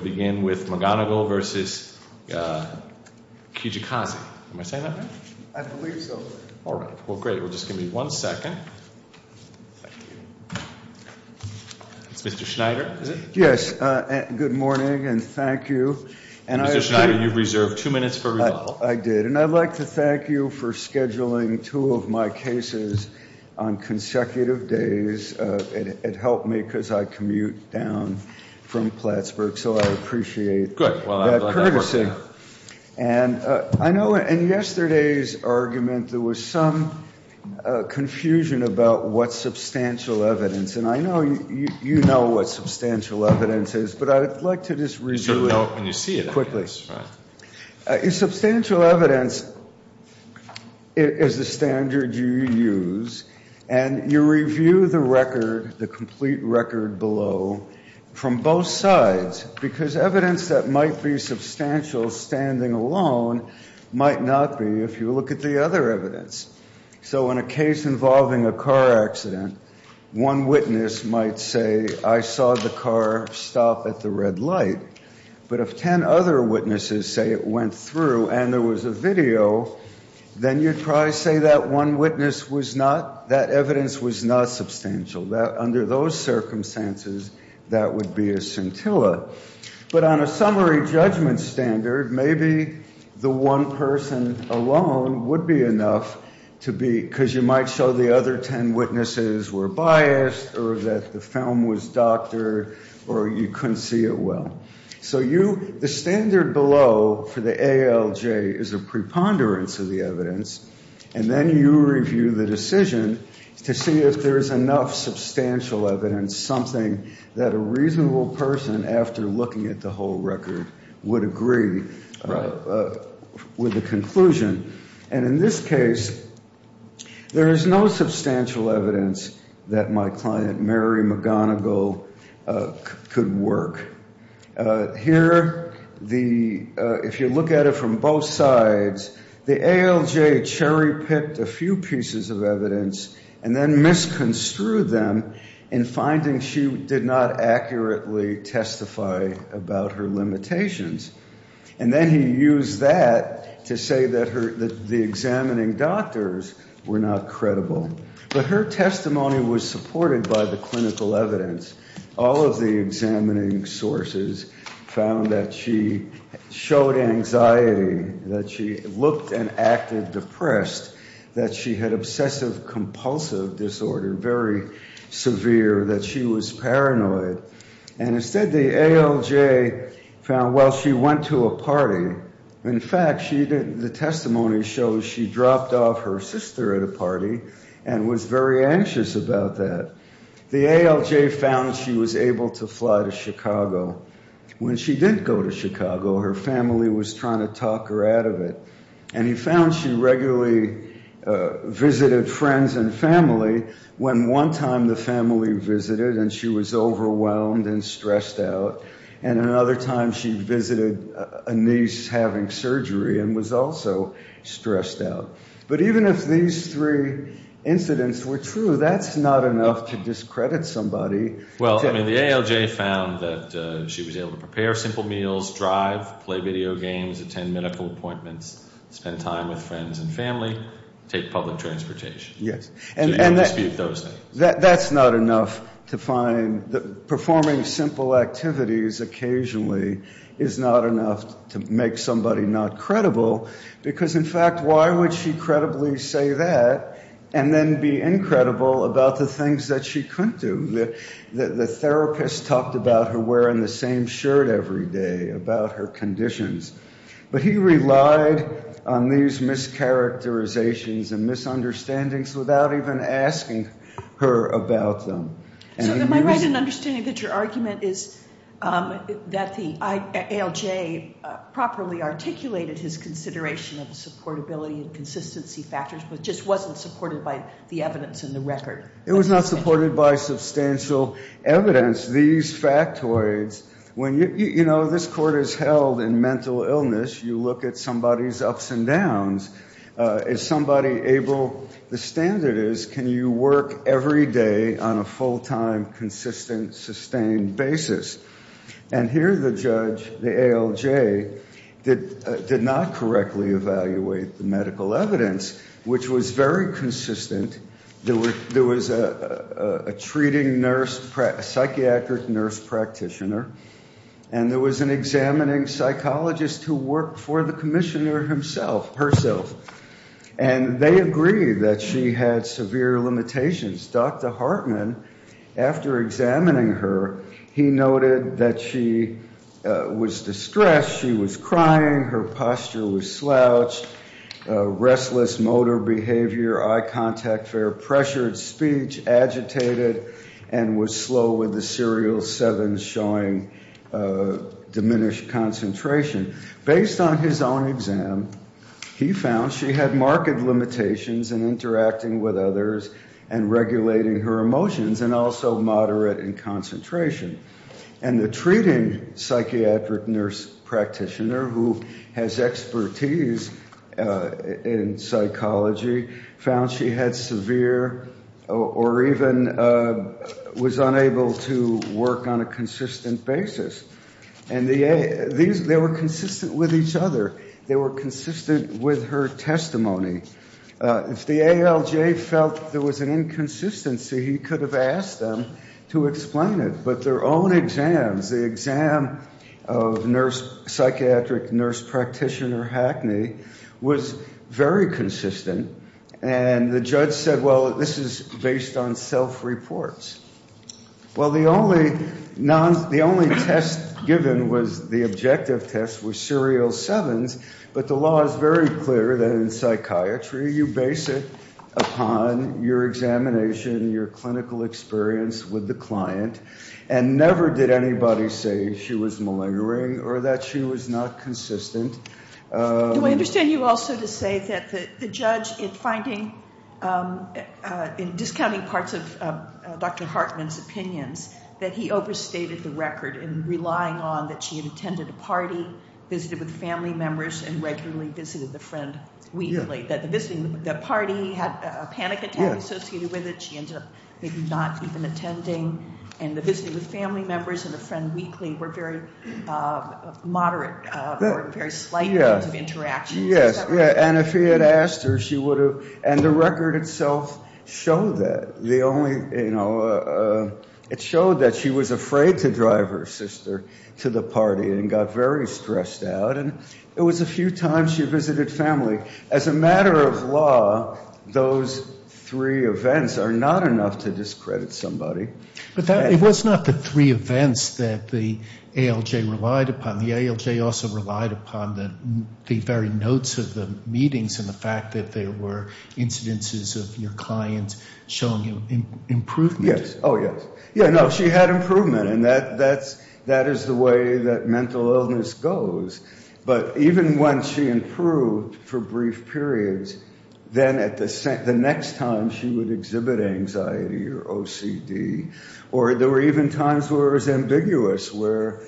We'll begin with McGonagall v. Kijakazi. Am I saying that right? I believe so. All right. Well, great. We'll just give me one second. That's Mr. Schneider, is it? Yes. Good morning and thank you. Mr. Schneider, you've reserved two minutes for rebuttal. I did. And I'd like to thank you for scheduling two of my cases on consecutive days. It helped me because I commute down from Plattsburgh, so I appreciate that courtesy. And I know in yesterday's argument there was some confusion about what substantial evidence. And I know you know what substantial evidence is, but I'd like to just review it quickly. Substantial evidence is the standard you use. And you review the record, the complete record below, from both sides. Because evidence that might be substantial standing alone might not be if you look at the other evidence. So in a case involving a car accident, one witness might say I saw the car stop at the red light. But if ten other witnesses say it went through and there was a video, then you'd probably say that one witness was not, that evidence was not substantial. Under those circumstances, that would be a scintilla. But on a summary judgment standard, maybe the one person alone would be enough to be, because you might show the other ten witnesses were biased or that the film was doctored or you couldn't see it well. So you, the standard below for the ALJ is a preponderance of the evidence. And then you review the decision to see if there is enough substantial evidence, something that a reasonable person, after looking at the whole record, would agree with the conclusion. And in this case, there is no substantial evidence that my client Mary McGonigal could work. Here, the, if you look at it from both sides, the ALJ cherry-picked a few pieces of evidence and then misconstrued them in finding she did not accurately testify about her limitations. And then he used that to say that the examining doctors were not credible. But her testimony was supported by the clinical evidence. All of the examining sources found that she showed anxiety, that she looked and acted depressed, that she had obsessive-compulsive disorder, very severe, that she was paranoid. And instead, the ALJ found, well, she went to a party. In fact, the testimony shows she dropped off her sister at a party and was very anxious about that. The ALJ found she was able to fly to Chicago. When she did go to Chicago, her family was trying to talk her out of it. And he found she regularly visited friends and family when one time the family visited and she was overwhelmed and stressed out. And another time she visited a niece having surgery and was also stressed out. But even if these three incidents were true, that's not enough to discredit somebody. Well, I mean, the ALJ found that she was able to prepare simple meals, drive, play video games, attend medical appointments, spend time with friends and family, take public transportation. Yes. So you dispute those things. That's not enough to find that performing simple activities occasionally is not enough to make somebody not credible. Because, in fact, why would she credibly say that and then be incredible about the things that she couldn't do? The therapist talked about her wearing the same shirt every day, about her conditions. But he relied on these mischaracterizations and misunderstandings without even asking her about them. So am I right in understanding that your argument is that the ALJ properly articulated his consideration of supportability and consistency factors but just wasn't supported by the evidence in the record? It was not supported by substantial evidence. Because these factoids, when, you know, this court is held in mental illness, you look at somebody's ups and downs. Is somebody able, the standard is, can you work every day on a full-time, consistent, sustained basis? And here the judge, the ALJ, did not correctly evaluate the medical evidence, which was very consistent. There was a treating nurse, a psychiatric nurse practitioner. And there was an examining psychologist who worked for the commissioner herself. And they agreed that she had severe limitations. Dr. Hartman, after examining her, he noted that she was distressed, she was crying, her posture was slouched, restless motor behavior, eye contact, very pressured speech, agitated, and was slow with the serial sevens showing diminished concentration. Based on his own exam, he found she had marked limitations in interacting with others and regulating her emotions and also moderate in concentration. And the treating psychiatric nurse practitioner, who has expertise in psychology, found she had severe or even was unable to work on a consistent basis. And they were consistent with each other. They were consistent with her testimony. If the ALJ felt there was an inconsistency, he could have asked them to explain it. But their own exams, the exam of psychiatric nurse practitioner Hackney, was very consistent. And the judge said, well, this is based on self-reports. Well, the only test given was the objective test was serial sevens. But the law is very clear that in psychiatry, you base it upon your examination, your clinical experience with the client. And never did anybody say she was malingering or that she was not consistent. Do I understand you also to say that the judge, in discounting parts of Dr. Hartman's opinions, that he overstated the record in relying on that she had attended a party, visited with family members, and regularly visited the friend weekly. That the party had a panic attack associated with it. She ended up maybe not even attending. And the visiting with family members and the friend weekly were very moderate, or very slight kinds of interactions. Yes. And if he had asked her, she would have. And the record itself showed that. The only, you know, it showed that she was afraid to drive her sister to the party and got very stressed out. And it was a few times she visited family. As a matter of law, those three events are not enough to discredit somebody. But it was not the three events that the ALJ relied upon. The ALJ also relied upon the very notes of the meetings and the fact that there were incidences of your client showing improvement. Yes. Oh, yes. Yeah, no, she had improvement. And that is the way that mental illness goes. But even when she improved for brief periods, then at the next time she would exhibit anxiety or OCD. Or there were even times where it was ambiguous. Where,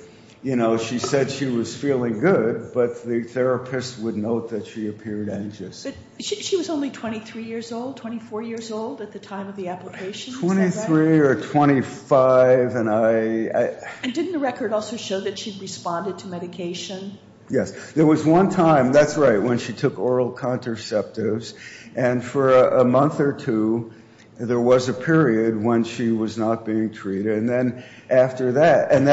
you know, she said she was feeling good, but the therapist would note that she appeared anxious. But she was only 23 years old, 24 years old at the time of the application. Right. Is that right? 23 or 25, and I... Yes. There was one time, that's right, when she took oral contraceptives. And for a month or two, there was a period when she was not being treated. And then after that... And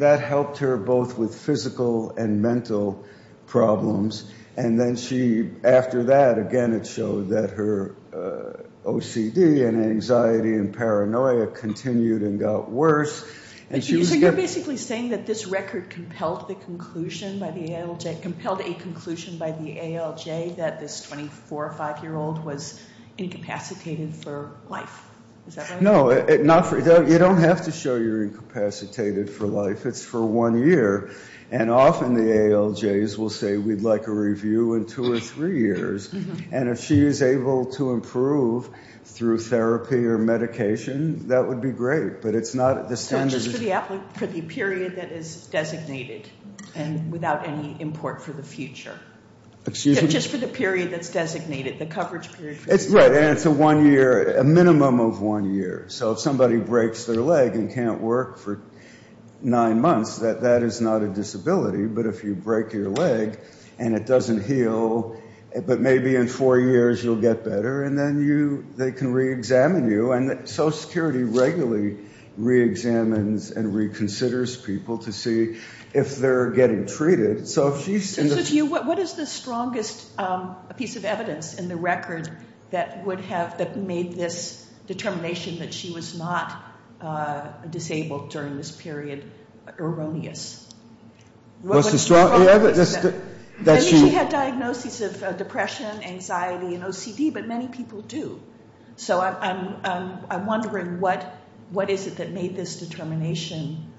that helped her both with physical and mental problems. And then after that, again, it showed that her OCD and anxiety and paranoia continued and got worse. So you're basically saying that this record compelled a conclusion by the ALJ that this 24 or 25-year-old was incapacitated for life. Is that right? No, you don't have to show you're incapacitated for life. It's for one year. And often the ALJs will say, we'd like a review in two or three years. And if she is able to improve through therapy or medication, that would be great. So just for the period that is designated and without any import for the future. Excuse me? Just for the period that's designated, the coverage period. Right, and it's a minimum of one year. So if somebody breaks their leg and can't work for nine months, that is not a disability. But if you break your leg and it doesn't heal, but maybe in four years you'll get better, and then they can reexamine you. And Social Security regularly reexamines and reconsiders people to see if they're getting treated. So what is the strongest piece of evidence in the record that made this determination that she was not disabled during this period erroneous? What's the strongest? She had diagnoses of depression, anxiety, and OCD, but many people do. So I'm wondering, what is it that made this determination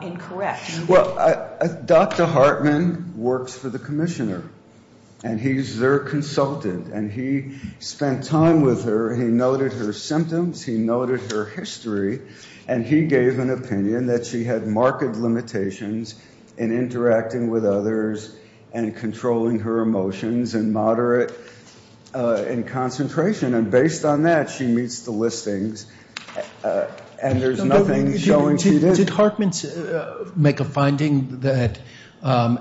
incorrect? Well, Dr. Hartman works for the commissioner, and he's their consultant. And he spent time with her. He noted her symptoms. He noted her history. And he gave an opinion that she had marked limitations in interacting with others and controlling her emotions and moderate in concentration. And based on that, she meets the listings. And there's nothing showing she didn't. Did Hartman make a finding that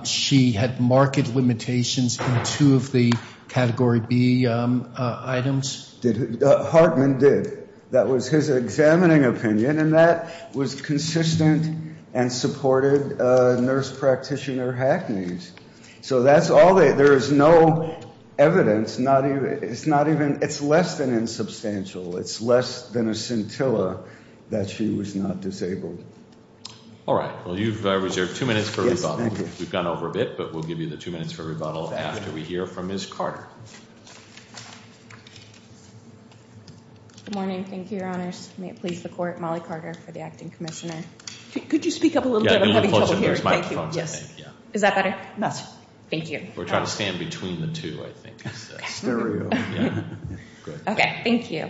she had marked limitations in two of the Category B items? Hartman did. That was his examining opinion. And that was consistent and supported nurse practitioner hackneys. So there is no evidence. It's less than insubstantial. It's less than a scintilla that she was not disabled. All right. Well, you've reserved two minutes for rebuttal. We've gone over a bit, but we'll give you the two minutes for rebuttal after we hear from Ms. Carter. Good morning. Thank you, Your Honors. May it please the Court, Molly Carter for the acting commissioner. Could you speak up a little bit? Yes. Is that better? Thank you. We're trying to stand between the two, I think. Stereo. Okay. Thank you.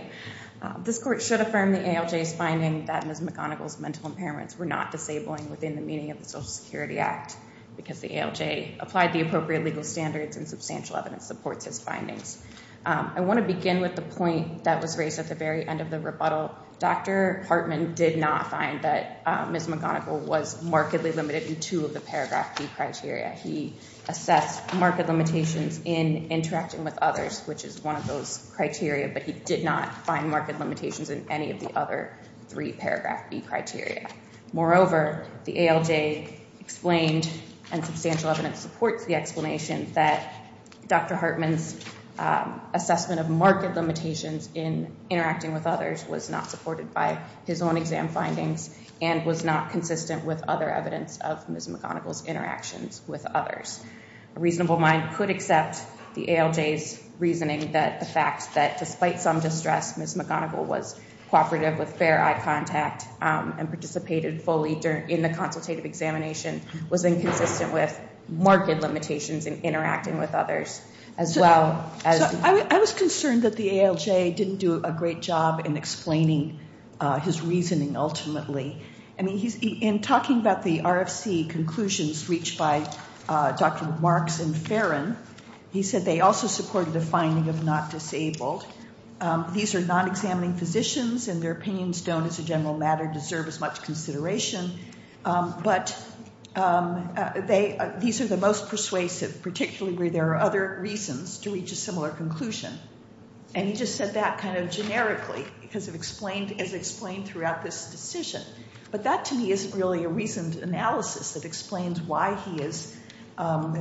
This Court should affirm the ALJ's finding that Ms. McGonigal's mental impairments were not disabling within the meaning of the Social Security Act because the ALJ applied the appropriate legal standards and substantial evidence supports his findings. I want to begin with the point that was raised at the very end of the rebuttal. Dr. Hartman did not find that Ms. McGonigal was markedly limited in two of the Paragraph B criteria. He assessed marked limitations in interacting with others, which is one of those criteria, but he did not find marked limitations in any of the other three Paragraph B criteria. Moreover, the ALJ explained, and substantial evidence supports the explanation, that Dr. Hartman's assessment of marked limitations in interacting with others was not supported by his own exam findings and was not consistent with other evidence of Ms. McGonigal's interactions with others. A reasonable mind could accept the ALJ's reasoning that the fact that, despite some distress, Ms. McGonigal was cooperative with fair eye contact and participated fully in the consultative examination was inconsistent with marked limitations in interacting with others as well as... I was concerned that the ALJ didn't do a great job in explaining his reasoning ultimately. In talking about the RFC conclusions reached by Dr. Marks and Ferrin, he said they also supported the finding of not disabled. These are non-examining physicians, and their opinions don't, as a general matter, deserve as much consideration. But these are the most persuasive, particularly where there are other reasons to reach a similar conclusion. And he just said that kind of generically because it's explained throughout this decision. But that, to me, isn't really a reasoned analysis that explains why he is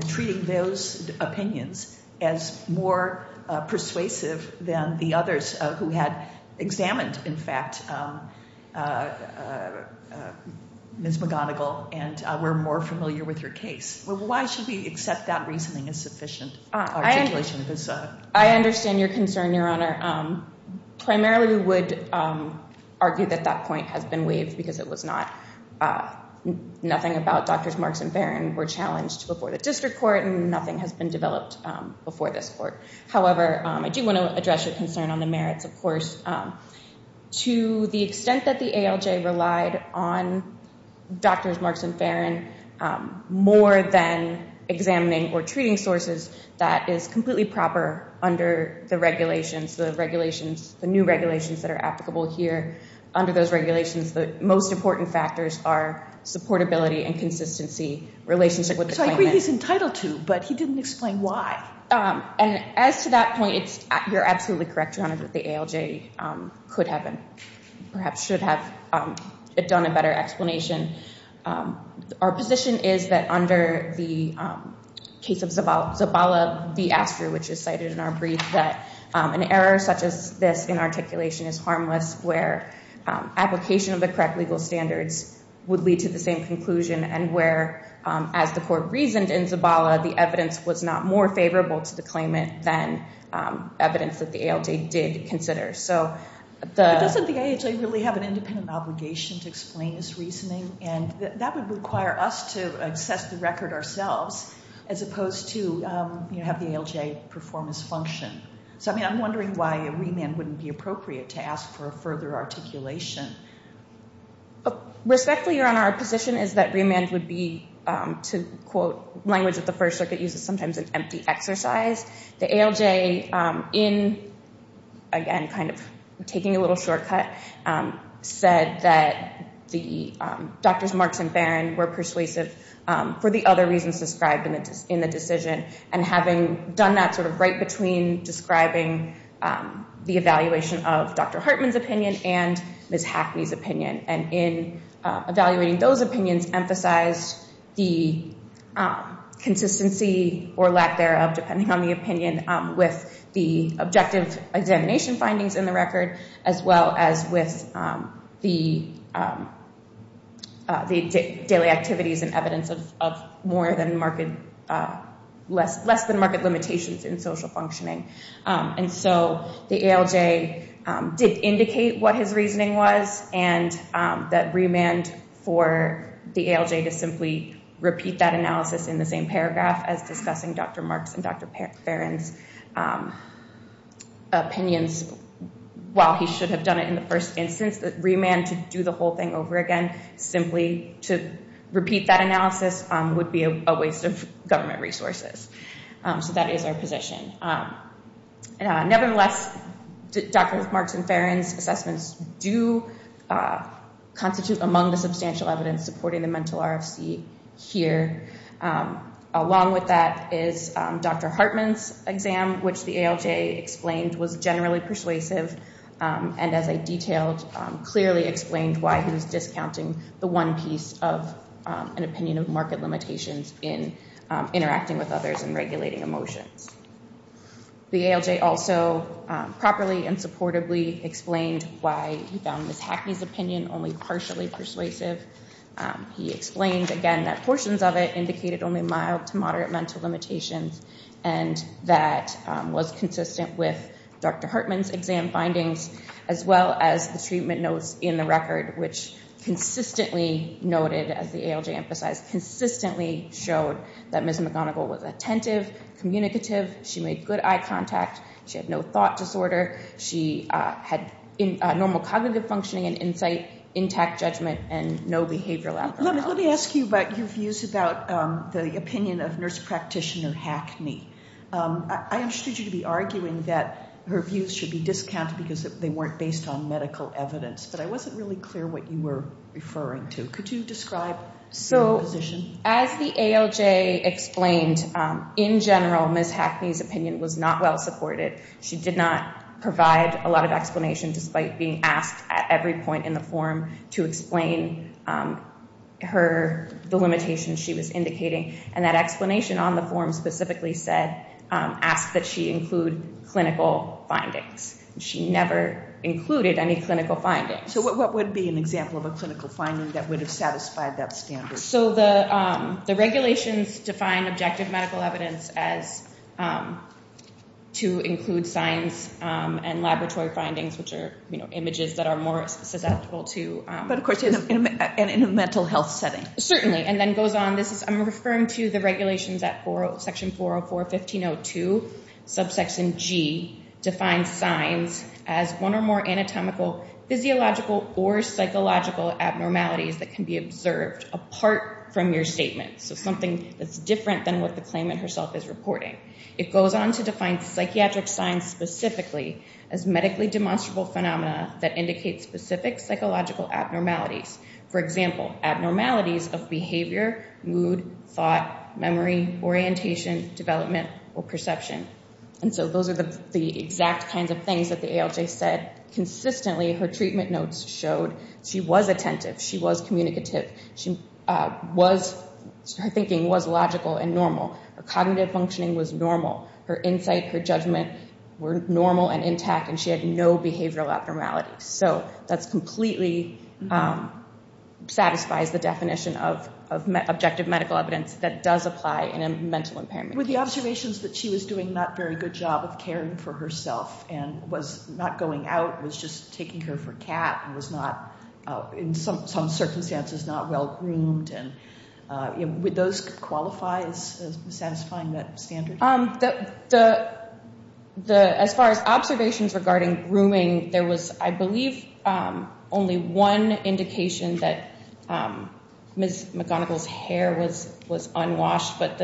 treating those opinions as more persuasive than the others who had examined, in fact, Ms. McGonigal and were more familiar with her case. Why should we accept that reasoning as sufficient articulation? I understand your concern, Your Honor. Primarily, we would argue that that point has been waived because it was not... Nothing about Drs. Marks and Ferrin were challenged before the district court, and nothing has been developed before this court. However, I do want to address your concern on the merits, of course. To the extent that the ALJ relied on Drs. Marks and Ferrin more than examining or treating sources, that is completely proper under the regulations, the new regulations that are applicable here. Under those regulations, the most important factors are supportability and consistency, relationship with the claimant. So I agree he's entitled to, but he didn't explain why. As to that point, you're absolutely correct, Your Honor, that the ALJ could have and perhaps should have done a better explanation. Our position is that under the case of Zabala v. Astor, which is cited in our brief, that an error such as this in articulation is harmless where application of the correct legal standards would lead to the same conclusion and where, as the court reasoned in Zabala, the evidence was not more favorable to the claimant than evidence that the ALJ did consider. So the... But doesn't the ALJ really have an independent obligation to explain this reasoning? And that would require us to assess the record ourselves as opposed to have the ALJ perform its function. So, I mean, I'm wondering why a remand wouldn't be appropriate to ask for a further articulation. Respectfully, Your Honor, our position is that remand would be, to quote language that the First Circuit uses sometimes, an empty exercise. The ALJ in, again, kind of taking a little shortcut, said that the Doctors Marks and Barron were persuasive for the other reasons described in the decision. And having done that sort of right between describing the evaluation of Dr. Hartman's opinion and Ms. Hackney's opinion. And in evaluating those opinions, emphasized the consistency or lack thereof, depending on the opinion, with the objective examination findings in the record, as well as with the daily activities and evidence of more than market, less than market limitations in social functioning. And so the ALJ did indicate what his reasoning was and that remand for the ALJ to simply repeat that analysis in the same paragraph as discussing Dr. Marks and Dr. Barron's opinions, while he should have done it in the first instance, that remand to do the whole thing over again simply to repeat that analysis would be a waste of government resources. So that is our position. Nevertheless, Dr. Marks and Barron's assessments do constitute among the substantial evidence supporting the mental RFC here. Along with that is Dr. Hartman's exam, which the ALJ explained was generally persuasive. And as I detailed, clearly explained why he was discounting the one piece of an opinion of market limitations in interacting with others and regulating emotions. The ALJ also properly and supportably explained why he found Ms. Hackney's opinion only partially persuasive. He explained, again, that portions of it indicated only mild to moderate mental limitations, and that was consistent with Dr. Hartman's exam findings, as well as the treatment notes in the record, which consistently noted, as the ALJ emphasized, consistently showed that Ms. McGonigal was attentive, communicative. She made good eye contact. She had no thought disorder. She had normal cognitive functioning and insight, intact judgment, and no behavioral abnormalities. Let me ask you about your views about the opinion of nurse practitioner Hackney. I understood you to be arguing that her views should be discounted because they weren't based on medical evidence, but I wasn't really clear what you were referring to. Could you describe your position? As the ALJ explained, in general, Ms. Hackney's opinion was not well supported. She did not provide a lot of explanation, despite being asked at every point in the form to explain the limitations she was indicating. And that explanation on the form specifically said, asked that she include clinical findings. She never included any clinical findings. So what would be an example of a clinical finding that would have satisfied that standard? So the regulations define objective medical evidence as to include signs and laboratory findings, which are images that are more susceptible to… But of course, in a mental health setting. Certainly. And then it goes on. I'm referring to the regulations at section 404.1502, subsection G, defines signs as one or more anatomical, physiological, or psychological abnormalities that can be observed apart from your statement. So something that's different than what the claimant herself is reporting. It goes on to define psychiatric signs specifically as medically demonstrable phenomena that indicate specific psychological abnormalities. For example, abnormalities of behavior, mood, thought, memory, orientation, development, or perception. And so those are the exact kinds of things that the ALJ said consistently. Her treatment notes showed she was attentive. She was communicative. Her thinking was logical and normal. Her cognitive functioning was normal. Her insight, her judgment were normal and intact, and she had no behavioral abnormalities. So that completely satisfies the definition of objective medical evidence that does apply in a mental impairment. With the observations that she was doing a not very good job of caring for herself and was not going out, was just taking care of her cat and was not, in some circumstances, not well-groomed, would those qualify as satisfying that standard? As far as observations regarding grooming, there was, I believe, only one indication that Ms. McGonigal's hair was unwashed, but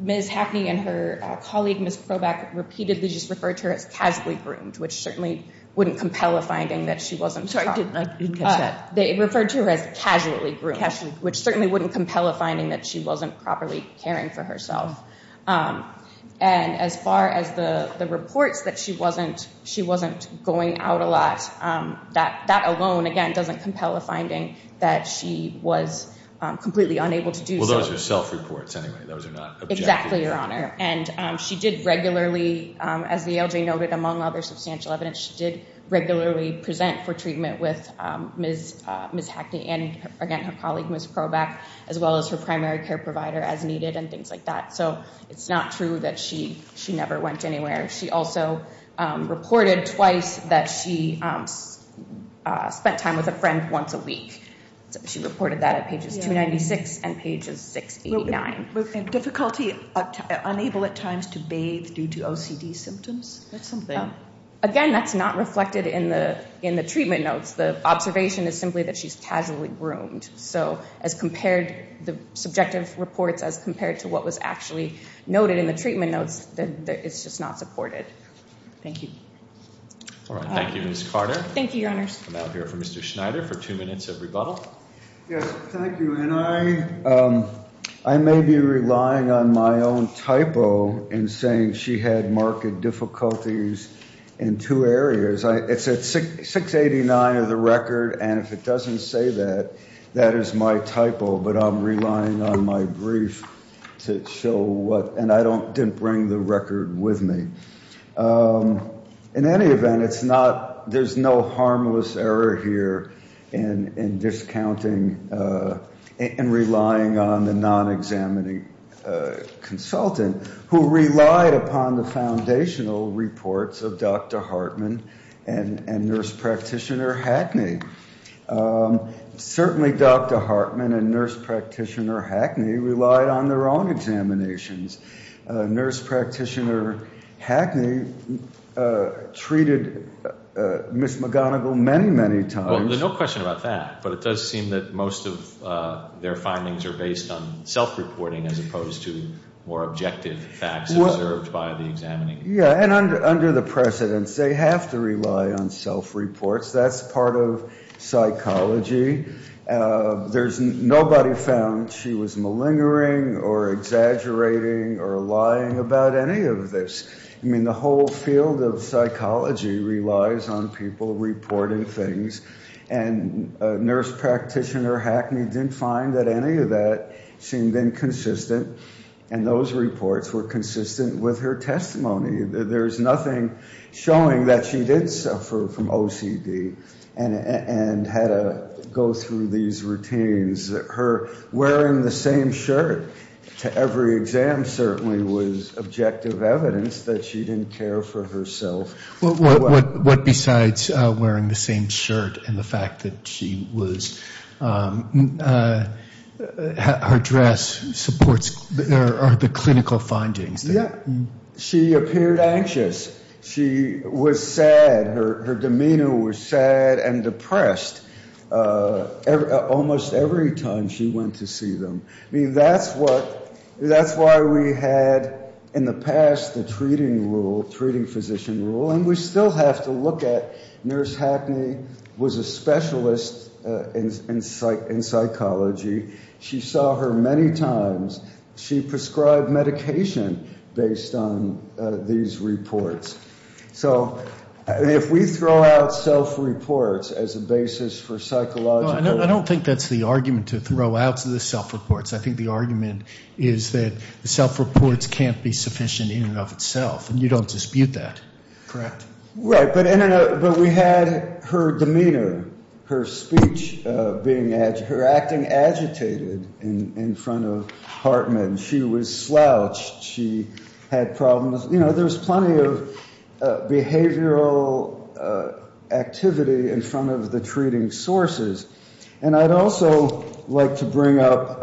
Ms. Hackney and her colleague, Ms. Krobach, repeatedly just referred to her as casually groomed, which certainly wouldn't compel a finding that she wasn't properly. Sorry, I didn't catch that. They referred to her as casually groomed, which certainly wouldn't compel a finding that she wasn't properly caring for herself. And as far as the reports that she wasn't going out a lot, that alone, again, doesn't compel a finding that she was completely unable to do so. Well, those are self-reports, anyway. Those are not objective. Exactly, Your Honor. And she did regularly, as the ALJ noted, among other substantial evidence, she did regularly present for treatment with Ms. Hackney and, again, her colleague, Ms. Krobach, as well as her primary care provider as needed and things like that. So it's not true that she never went anywhere. She also reported twice that she spent time with a friend once a week. She reported that at pages 296 and pages 689. Difficulty, unable at times to bathe due to OCD symptoms? That's something. Again, that's not reflected in the treatment notes. The observation is simply that she's casually groomed. So as compared, the subjective reports as compared to what was actually noted in the treatment notes, it's just not supported. Thank you. All right. Thank you, Ms. Carter. Thank you, Your Honors. We'll now hear from Mr. Schneider for two minutes of rebuttal. Yes, thank you. And I may be relying on my own typo in saying she had marked difficulties in two areas. It's at 689 of the record, and if it doesn't say that, that is my typo, but I'm relying on my brief to show what, and I didn't bring the record with me. In any event, it's not, there's no harmless error here in discounting and relying on the non-examining consultant who relied upon the foundational reports of Dr. Hartman and Nurse Practitioner Hackney. Certainly Dr. Hartman and Nurse Practitioner Hackney relied on their own examinations. Nurse Practitioner Hackney treated Ms. McGonigal many, many times. Well, there's no question about that, but it does seem that most of their findings are based on self-reporting as opposed to more objective facts observed by the examining. Yeah, and under the precedents, they have to rely on self-reports. That's part of psychology. Nobody found she was malingering or exaggerating or lying about any of this. I mean, the whole field of psychology relies on people reporting things, and Nurse Practitioner Hackney didn't find that any of that seemed inconsistent, and those reports were consistent with her testimony. There's nothing showing that she did suffer from OCD and had to go through these routines. Wearing the same shirt to every exam certainly was objective evidence that she didn't care for herself. What besides wearing the same shirt and the fact that her dress supports the clinical findings? Yeah, she appeared anxious. She was sad. Her demeanor was sad and depressed almost every time she went to see them. I mean, that's why we had in the past the treating rule, treating physician rule, and we still have to look at Nurse Hackney was a specialist in psychology. She saw her many times. She prescribed medication based on these reports. So if we throw out self-reports as a basis for psychological— I don't think that's the argument to throw out the self-reports. I think the argument is that the self-reports can't be sufficient in and of itself, and you don't dispute that. Correct. Right, but we had her demeanor, her speech, her acting agitated in front of Hartman. She was slouched. She had problems. You know, there's plenty of behavioral activity in front of the treating sources, and I'd also like to bring up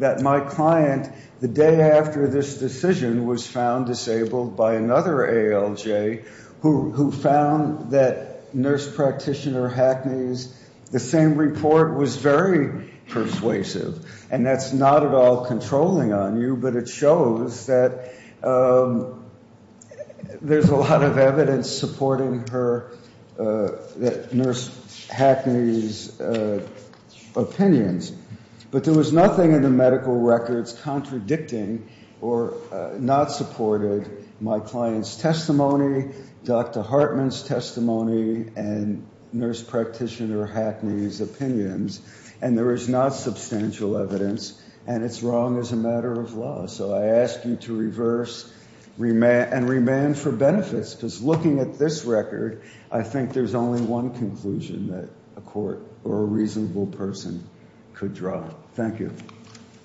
that my client, the day after this decision, was found disabled by another ALJ who found that Nurse Practitioner Hackney's—the same report was very persuasive, and that's not at all controlling on you, but it shows that there's a lot of evidence supporting Nurse Hackney's opinions. But there was nothing in the medical records contradicting or not supporting my client's testimony, Dr. Hartman's testimony, and Nurse Practitioner Hackney's opinions, and there is not substantial evidence, and it's wrong as a matter of law. So I ask you to reverse and remand for benefits, because looking at this record, I think there's only one conclusion that a court or a reasonable person could draw. Thank you.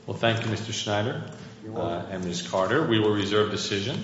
Well, thank you, Mr. Schneider and Ms. Carter. We will reserve decision.